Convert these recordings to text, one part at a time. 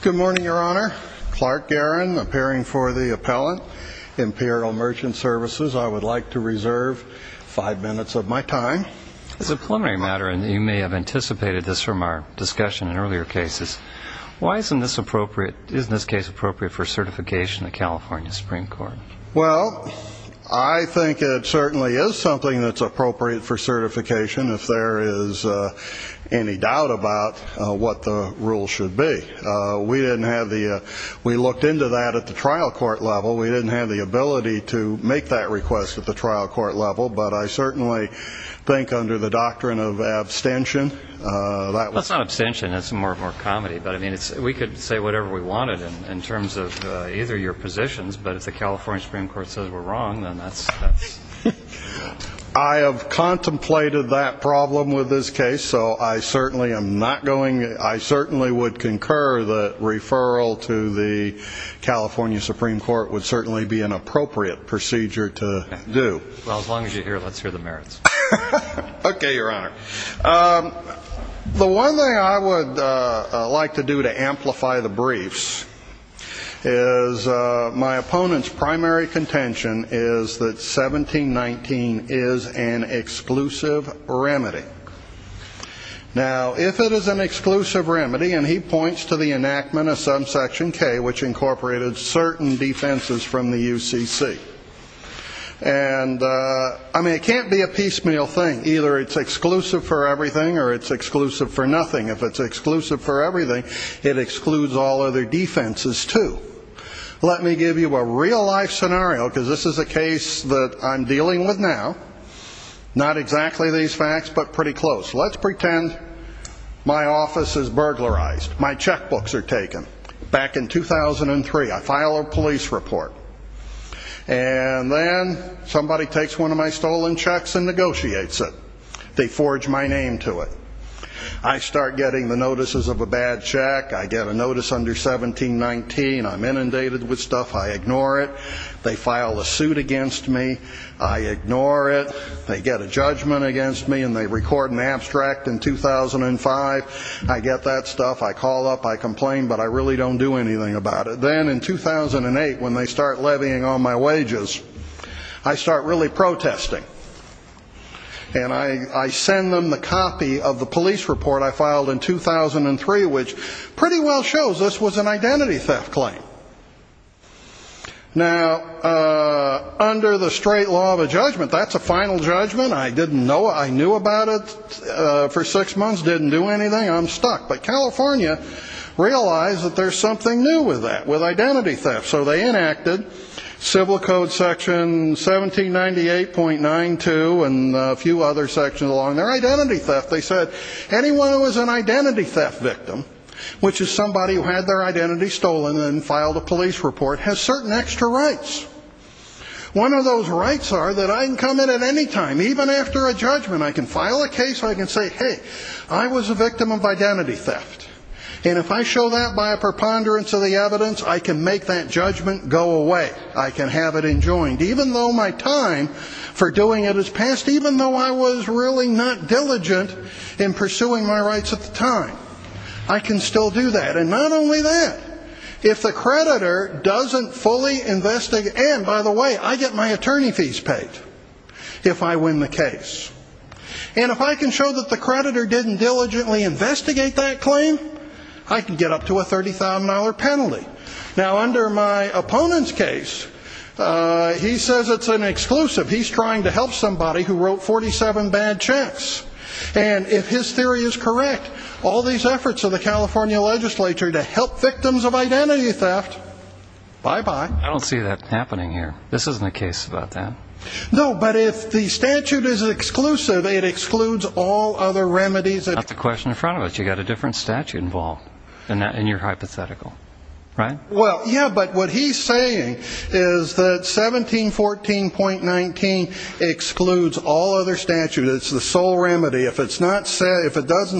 Good morning, Your Honor. Clark Guerin, appearing for the appellate, Imperial Merchant Services. I would like to reserve five minutes of my time. As a preliminary matter, and you may have anticipated this from our discussion in earlier cases, why isn't this case appropriate for certification in the California Supreme Court? Well, I think it certainly is something that's appropriate for certification if there is any doubt about what the rules should be. We looked into that at the trial court level. We didn't have the ability to make that request at the trial court level. But I certainly think under the doctrine of abstention. That's not abstention. That's more comedy. But, I mean, we could say whatever we wanted in terms of either your positions. But if the California Supreme Court says we're wrong, then that's. I have contemplated that problem with this case. So I certainly am not going. I certainly would concur that referral to the California Supreme Court would certainly be an appropriate procedure to do. Well, as long as you're here, let's hear the merits. Okay, Your Honor. The one thing I would like to do to amplify the briefs is my opponent's primary contention is that 1719 is an exclusive remedy. Now, if it is an exclusive remedy, and he points to the enactment of subsection K, which incorporated certain defenses from the UCC. And, I mean, it can't be a piecemeal thing. Either it's exclusive for everything, or it's exclusive for nothing. If it's exclusive for everything, it excludes all other defenses, too. Let me give you a real-life scenario, because this is a case that I'm dealing with now. Not exactly these facts, but pretty close. Let's pretend my office is burglarized. My checkbooks are taken. Back in 2003, I file a police report. And then somebody takes one of my stolen checks and negotiates it. They forge my name to it. I start getting the notices of a bad check. I get a notice under 1719. I'm inundated with stuff. I ignore it. They file a suit against me. I ignore it. They get a judgment against me, and they record an abstract in 2005. I get that stuff. I call up. I complain, but I really don't do anything about it. Then in 2008, when they start levying on my wages, I start really protesting. And I send them the copy of the police report I filed in 2003, which pretty well shows this was an identity theft claim. Now, under the straight law of a judgment, that's a final judgment. I didn't know. I knew about it for six months. Didn't do anything. I'm stuck. But California realized that there's something new with that, with identity theft. So they enacted civil code section 1798.92 and a few other sections along there. Identity theft. They said anyone who was an identity theft victim, which is somebody who had their identity stolen and filed a police report, has certain extra rights. One of those rights are that I can come in at any time, even after a judgment. I can file a case. I can say, hey, I was a victim of identity theft. And if I show that by a preponderance of the evidence, I can make that judgment go away. I can have it enjoined, even though my time for doing it has passed, even though I was really not diligent in pursuing my rights at the time. I can still do that. And not only that, if the creditor doesn't fully investigate and, by the way, I get my attorney fees paid if I win the case. And if I can show that the creditor didn't diligently investigate that claim, I can get up to a $30,000 penalty. Now, under my opponent's case, he says it's an exclusive. He's trying to help somebody who wrote 47 bad checks. And if his theory is correct, all these efforts of the California legislature to help victims of identity theft, bye-bye. I don't see that happening here. This isn't a case about that. No, but if the statute is exclusive, it excludes all other remedies. That's the question in front of us. You've got a different statute involved in your hypothetical, right? Well, yeah, but what he's saying is that 1714.19 excludes all other statutes. It's the sole remedy. If it doesn't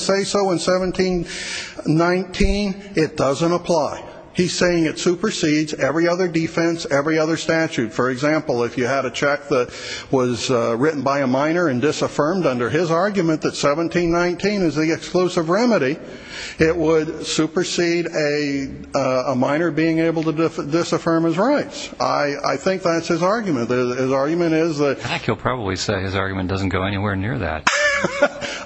say so in 1719, it doesn't apply. He's saying it supersedes every other defense, every other statute. For example, if you had a check that was written by a minor and disaffirmed under his argument that 1719 is the exclusive remedy, it would supersede a minor being able to disaffirm his rights. I think that's his argument. His argument is that he'll probably say his argument doesn't go anywhere near that.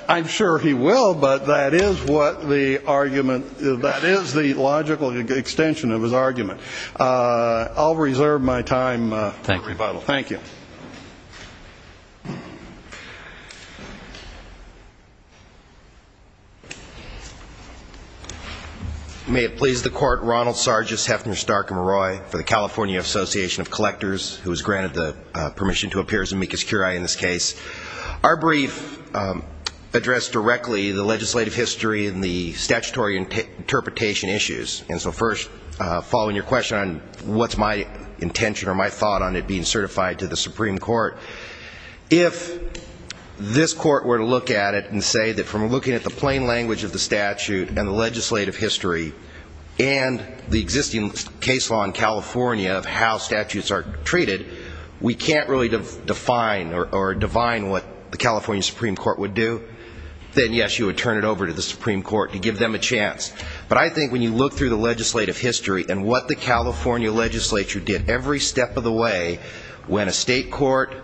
I'm sure he will, but that is what the argument is. That is the logical extension of his argument. I'll reserve my time for rebuttal. Thank you. May it please the Court, Ronald Sargis, Hefner, Stark, and Maroi for the California Association of Collectors, who has granted the permission to appear as amicus curiae in this case. Our brief addressed directly the legislative history and the statutory interpretation issues. And so first, following your question on what's my intention or my thought on it being certified to the Supreme Court, if this Court were to look at it and say that from looking at the plain language of the statute and the legislative history and the existing case law in California of how statutes are treated, we can't really define or divine what the California Supreme Court would do, then, yes, you would turn it over to the Supreme Court to give them a chance. But I think when you look through the legislative history and what the California legislature did every step of the way, when a state court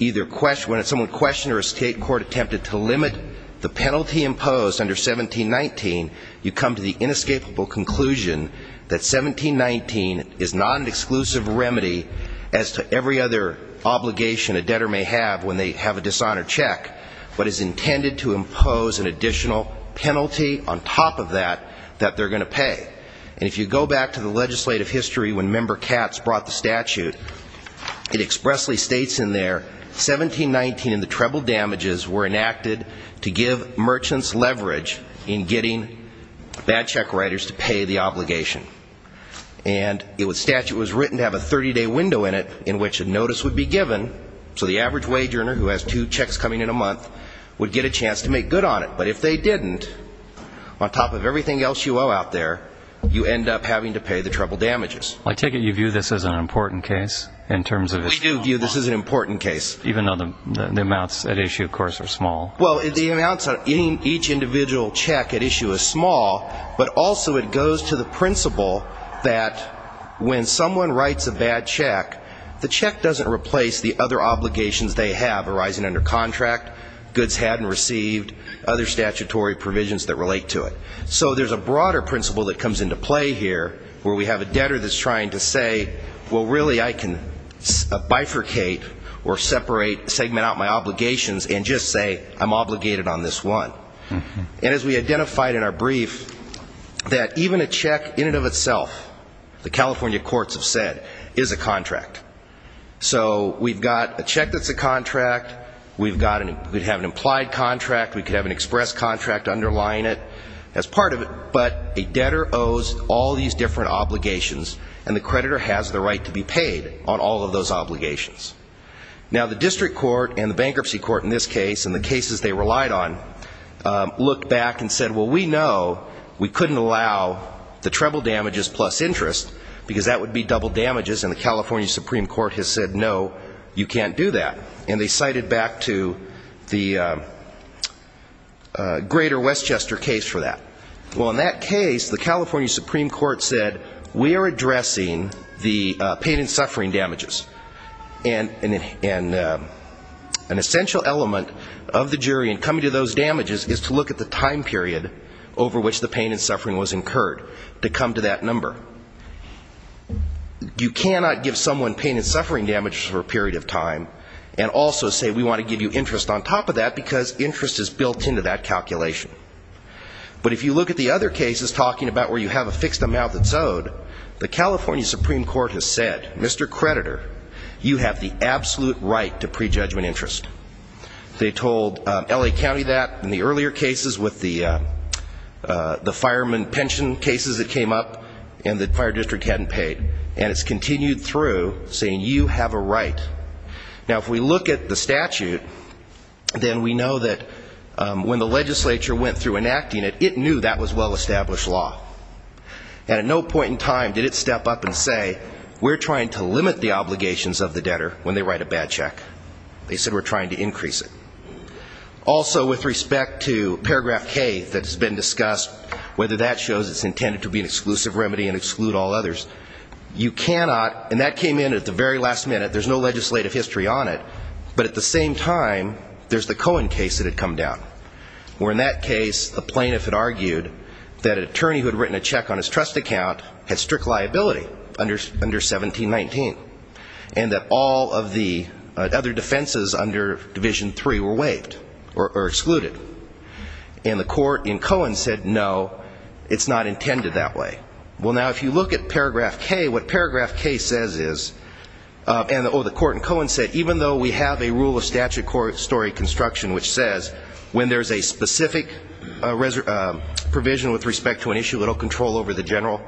either questioned or a state court attempted to limit the penalty imposed under 1719, you come to the inescapable conclusion that 1719 is not an exclusive remedy as to every other obligation a debtor may have when they have a dishonored check, but is intended to impose an additional penalty on top of that that they're going to pay. And if you go back to the legislative history when Member Katz brought the statute, it expressly states in there, 1719 and the treble damages were enacted to give merchants leverage in getting bad check writers to pay the obligation. And the statute was written to have a 30-day window in it in which a notice would be given, so the average wage earner who has two checks coming in a month would get a chance to make good on it. But if they didn't, on top of everything else you owe out there, you end up having to pay the treble damages. I take it you view this as an important case? We do view this as an important case. Even though the amounts at issue, of course, are small. Well, the amounts on each individual check at issue is small, but also it goes to the principle that when someone writes a bad check, the check doesn't replace the other obligations they have arising under contract, goods had and received, other statutory provisions that relate to it. So there's a broader principle that comes into play here where we have a debtor that's trying to say, well, really I can bifurcate or separate, segment out my obligations and just say I'm obligated on this one. And as we identified in our brief, that even a check in and of itself, the California courts have said, is a contract. So we've got a check that's a contract, we could have an implied contract, we could have an express contract underlying it, as part of it, but a debtor owes all these different obligations and the creditor has the right to be paid on all of those obligations. Now, the district court and the bankruptcy court in this case and the cases they relied on looked back and said, well, we know we couldn't allow the treble damages plus interest because that would be double damages and the California Supreme Court has said, no, you can't do that. And they cited back to the greater Westchester case for that. Well, in that case, the California Supreme Court said, we are addressing the pain and suffering damages. And an essential element of the jury in coming to those damages is to look at the time period over which the pain and suffering was incurred to come to that number. You cannot give someone pain and suffering damages for a period of time and also say we want to give you interest on top of that, because interest is built into that calculation. But if you look at the other cases talking about where you have a fixed amount that's owed, the California Supreme Court has said, Mr. Creditor, you have the absolute right to prejudgment interest. They told L.A. County that in the earlier cases with the fireman pension cases that came up, and the California Supreme Court has said, Mr. Creditor, you have the absolute right to prejudgment interest. And the fire district hadn't paid. And it's continued through saying, you have a right. Now, if we look at the statute, then we know that when the legislature went through enacting it, it knew that was well-established law. And at no point in time did it step up and say, we're trying to limit the obligations of the debtor when they write a bad check. They said, we're trying to increase it. Also, with respect to paragraph K that's been discussed, whether that shows it's intended to be an exclusive remedy and exclude all others, you cannot, and that came in at the very last minute, there's no legislative history on it, but at the same time, there's the Cohen case that had come down, where in that case, the plaintiff had argued that an attorney who had written a check on his trust account had strict liability under 1719. And that all of the other defenses under Division III were waived or excluded. And the court in Cohen said, no, it's not intended that way. Well, now, if you look at paragraph K, what paragraph K says is, and the court in Cohen said, even though we have a rule of statute story construction which says when there's a specific provision with respect to an issue, it'll control over the general,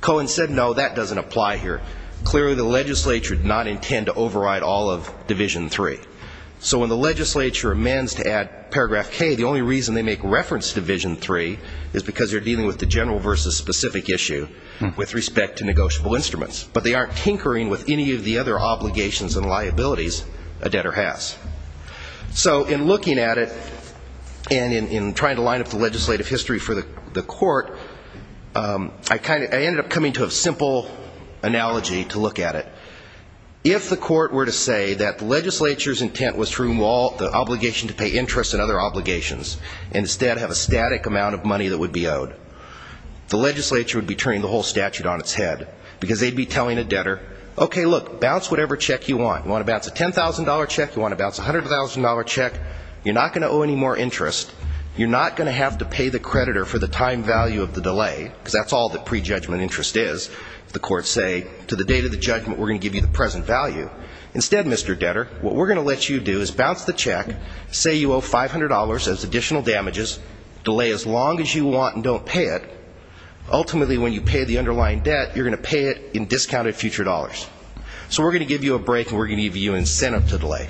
Cohen said, no, that doesn't apply here. Clearly, the legislature did not intend to override all of Division III. So when the legislature amends to add paragraph K, the only reason they make reference to Division III is because they're dealing with the general versus specific issue with respect to negotiable instruments. But they aren't tinkering with any of the other obligations and liabilities a debtor has. So in looking at it, and in trying to line up the legislative history for the court, I ended up coming to a simple analysis of what the court said. And there's a methodology to look at it. If the court were to say that the legislature's intent was to remove all the obligation to pay interest and other obligations, and instead have a static amount of money that would be owed, the legislature would be turning the whole statute on its head. Because they'd be telling a debtor, okay, look, bounce whatever check you want. You want to bounce a $10,000 check? You want to bounce a $100,000 check? You're not going to owe any more interest. You're not going to have to pay the creditor for the time value of the delay, because that's all that prejudgment interest is. If the court say, to the date of the judgment, we're going to give you the present value. Instead, Mr. Debtor, what we're going to let you do is bounce the check, say you owe $500 as additional damages, delay as long as you want and don't pay it. Ultimately, when you pay the underlying debt, you're going to pay it in discounted future dollars. So we're going to give you a break, and we're going to give you incentive to delay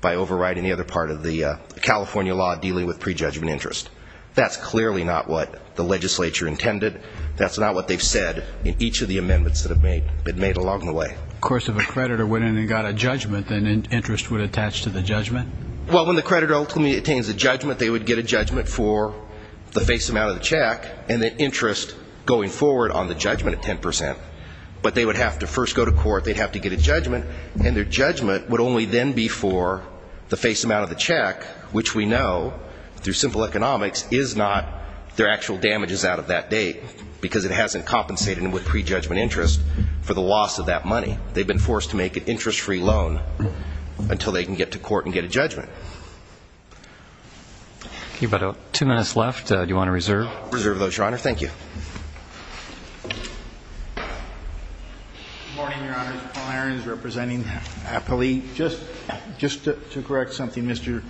by overriding the other part of the California law dealing with prejudgment interest. That's clearly not what the legislature intended. That's not what they've said in each of the amendments that have been made along the way. Of course, if a creditor went in and got a judgment, then interest would attach to the judgment? Well, when the creditor ultimately attains a judgment, they would get a judgment for the face amount of the check and the interest going forward on the judgment at 10 percent. But they would have to first go to court. They'd have to get a judgment, and their judgment would only then be for the face amount of the check, which we know, through simple economics, is not their actual damages out of that date because it hasn't compensated them with prejudgment interest for the loss of that money. They've been forced to make an interest-free loan until they can get to court and get a judgment. About two minutes left. Do you want to reserve? Reserve those, Your Honor. Thank you. Good morning, Your Honors. Paul Aarons representing APALE. Just to correct something Mr.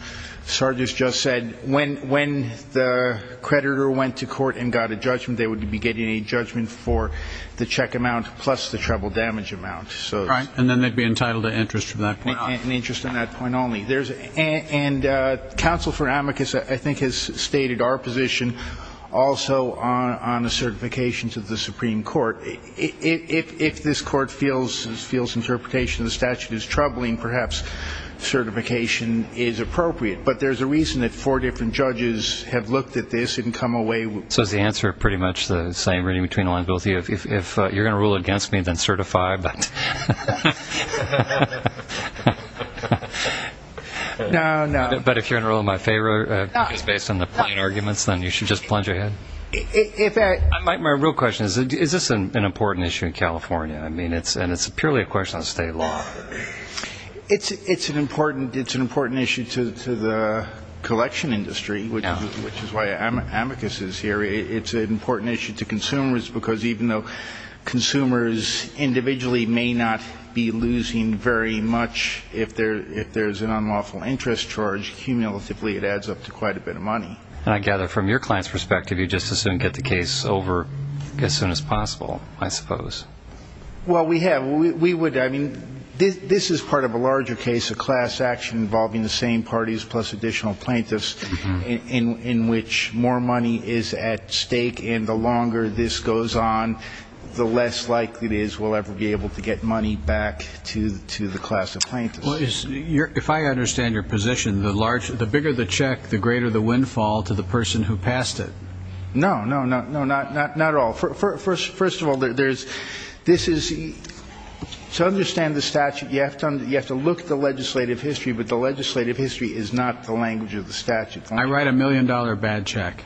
Sargis just said, when the creditor went to court and got a judgment, they would be getting a judgment for the check amount plus the treble damage amount. Right. And then they'd be entitled to interest from that point on. And interest on that point only. And counsel for amicus, I think, has stated our position also on the certifications of the Supreme Court. If this Court feels interpretation of the statute is troubling, perhaps certification is appropriate. But there's a reason that four different judges have looked at this and come away. So is the answer pretty much the same really between the lines of both of you? If you're going to rule against me, then certify. But if you're going to rule in my favor, based on the plain arguments, then you should just plunge ahead. My real question is, is this an important issue in California? I mean, and it's purely a question on state law. It's an important issue to the collection industry, which is why amicus is here. It's an important issue to consumers because even though consumers individually may not be losing very much, if there's an unlawful interest charge, cumulatively it adds up to quite a bit of money. And I gather from your client's perspective you just as soon get the case over as soon as possible, I suppose. Well, we have. I mean, this is part of a larger case of class action involving the same parties plus additional plaintiffs in which more money is at stake. And the longer this goes on, the less likely it is we'll ever be able to get money back to the class of plaintiffs. Well, if I understand your position, the bigger the check, the greater the windfall to the person who passed it. No, no, no, no, not at all. First of all, there's this is to understand the statute, you have to look at the legislative history, but the legislative history is not the language of the statute. I write a million-dollar bad check.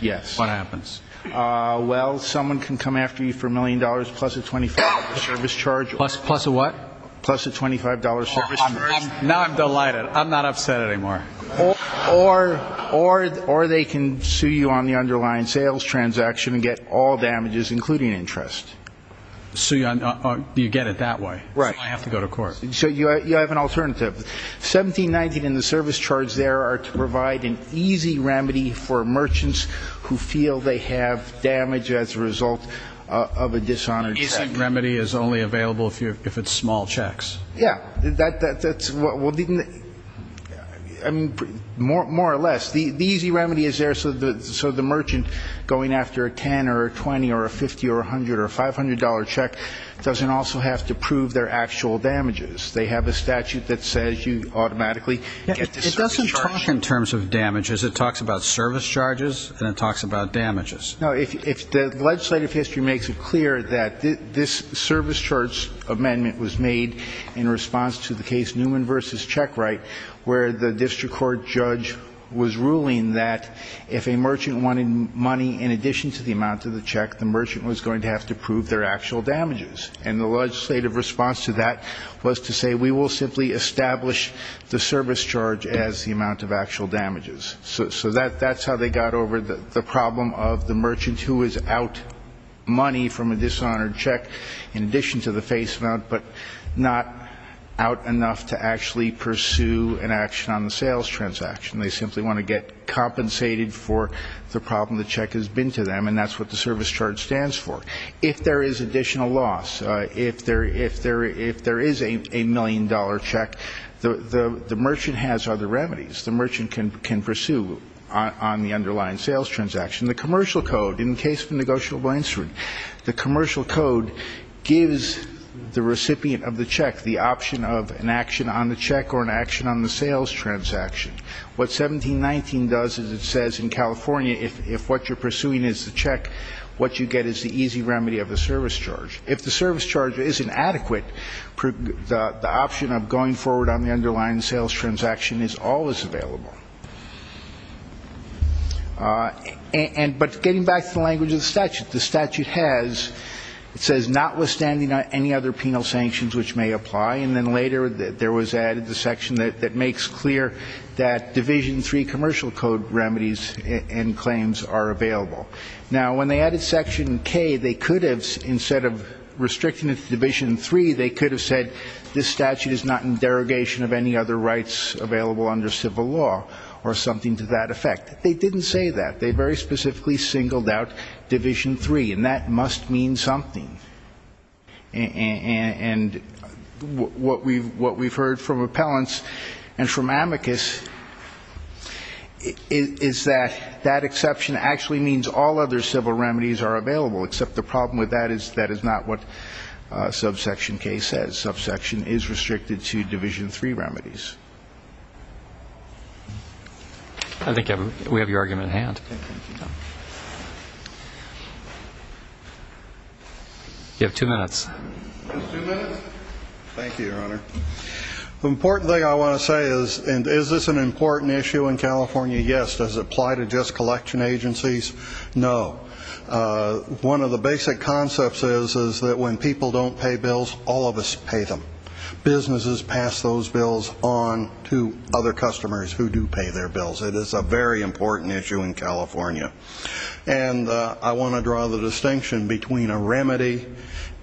Yes. What happens? Well, someone can come after you for a million dollars plus a $25 service charge. Plus a what? Plus a $25 service charge. Now I'm delighted. I'm not upset anymore. Or they can sue you on the underlying sales transaction and get all damages, including interest. Sue you? You get it that way. Right. So I have to go to court. So you have an alternative. 1719 and the service charge there are to provide an easy remedy for merchants who feel they have damage as a result of a dishonored check. The easy remedy is only available if it's small checks. Yeah. That's what we'll do. More or less. The easy remedy is there so the merchant going after a $10 or a $20 or a $50 or a $100 or a $500 check doesn't also have to prove their actual damages. They have a statute that says you automatically get the service charge. It doesn't talk in terms of damages. It talks about service charges and it talks about damages. No. The legislative history makes it clear that this service charge amendment was made in response to the case Newman v. where the district court judge was ruling that if a merchant wanted money in addition to the amount of the check, the merchant was going to have to prove their actual damages. And the legislative response to that was to say we will simply establish the service charge as the amount of actual damages. So that's how they got over the problem of the merchant who is out money from a dishonored check in addition to the face amount, but not out enough to actually pursue an action on the sales transaction. They simply want to get compensated for the problem the check has been to them, and that's what the service charge stands for. If there is additional loss, if there is a million-dollar check, the merchant has other remedies. The merchant can pursue on the underlying sales transaction. The commercial code, in the case of a negotiable instrument, the commercial code gives the recipient of the check the option of an action on the check or an action on the sales transaction. What 1719 does is it says in California if what you're pursuing is the check, what you get is the easy remedy of the service charge. If the service charge isn't adequate, the option of going forward on the underlying sales transaction is always available. But getting back to the language of the statute, the statute has, it says, notwithstanding any other penal sanctions which may apply, and then later there was added the section that makes clear that Division III commercial code remedies and claims are available. Now, when they added Section K, they could have, instead of restricting it to Division III, they could have said this statute is not in derogation of any other rights available under civil law. Or something to that effect. They didn't say that. They very specifically singled out Division III, and that must mean something. And what we've heard from appellants and from amicus is that that exception actually means all other civil remedies are available, except the problem with that is that is not what Subsection K says. Subsection is restricted to Division III remedies. I think we have your argument at hand. You have two minutes. Two minutes? Thank you, Your Honor. The important thing I want to say is, and is this an important issue in California? Yes. Does it apply to just collection agencies? No. One of the basic concepts is that when people don't pay bills, all of us pay them. Businesses pass those bills on to other customers who do pay their bills. It is a very important issue in California. And I want to draw the distinction between a remedy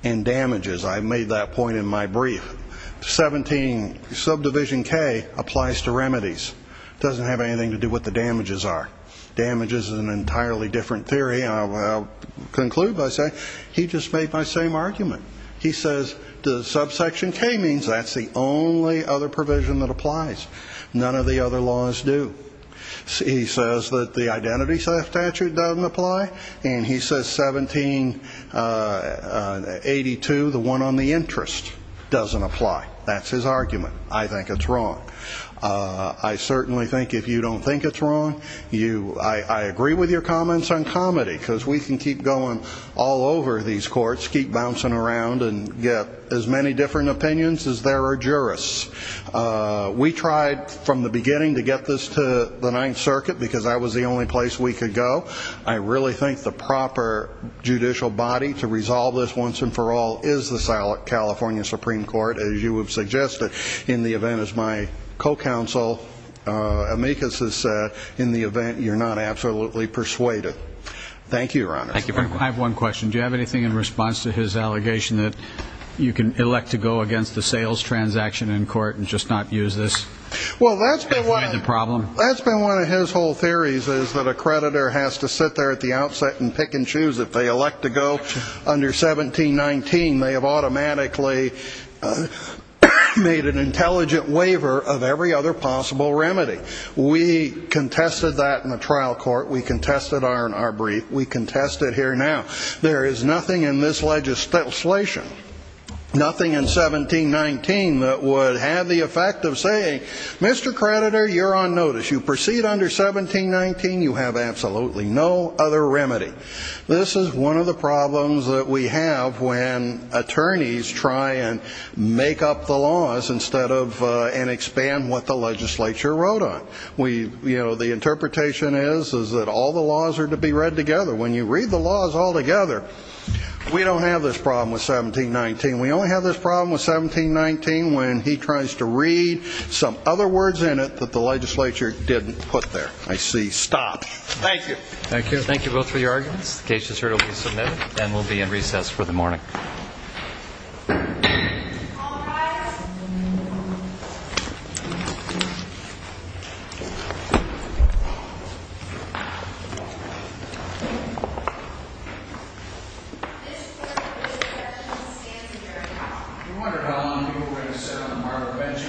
and damages. I made that point in my brief. Subdivision K applies to remedies. It doesn't have anything to do with what the damages are. Damages is an entirely different theory, and I'll conclude by saying he just made my same argument. He says the Subsection K means that's the only other provision that applies. None of the other laws do. He says that the identity statute doesn't apply, and he says 1782, the one on the interest, doesn't apply. That's his argument. I think it's wrong. I certainly think if you don't think it's wrong, I agree with your comments on comedy, because we can keep going all over these courts, keep bouncing around and get as many different opinions as there are jurists. We tried from the beginning to get this to the Ninth Circuit because that was the only place we could go. I really think the proper judicial body to resolve this once and for all is the California Supreme Court, as you have suggested, in the event, as my co-counsel, Amicus, has said, in the event you're not absolutely persuaded. Thank you, Your Honor. I have one question. Do you have anything in response to his allegation that you can elect to go against the sales transaction in court and just not use this? Well, that's been one of his whole theories is that a creditor has to sit there at the outset and pick and choose. If they elect to go under 1719, they have automatically made an intelligent waiver of every other possible remedy. We contested that in the trial court. We contested it in our brief. We contest it here now. There is nothing in this legislation, nothing in 1719, that would have the effect of saying, Mr. Creditor, you're on notice. You proceed under 1719, you have absolutely no other remedy. This is one of the problems that we have when attorneys try and make up the laws instead of and expand what the legislature wrote on. You know, the interpretation is that all the laws are to be read together. When you read the laws all together, we don't have this problem with 1719. We only have this problem with 1719 when he tries to read some other words in it that the legislature didn't put there. I see. Stop. Thank you. Thank you both for your arguments. The case is heard. It will be submitted. And we'll be in recess for the morning. All rise. This court is adjourned and stands adjourned. I wondered how long you were going to sit on a marble bench and be a cleric.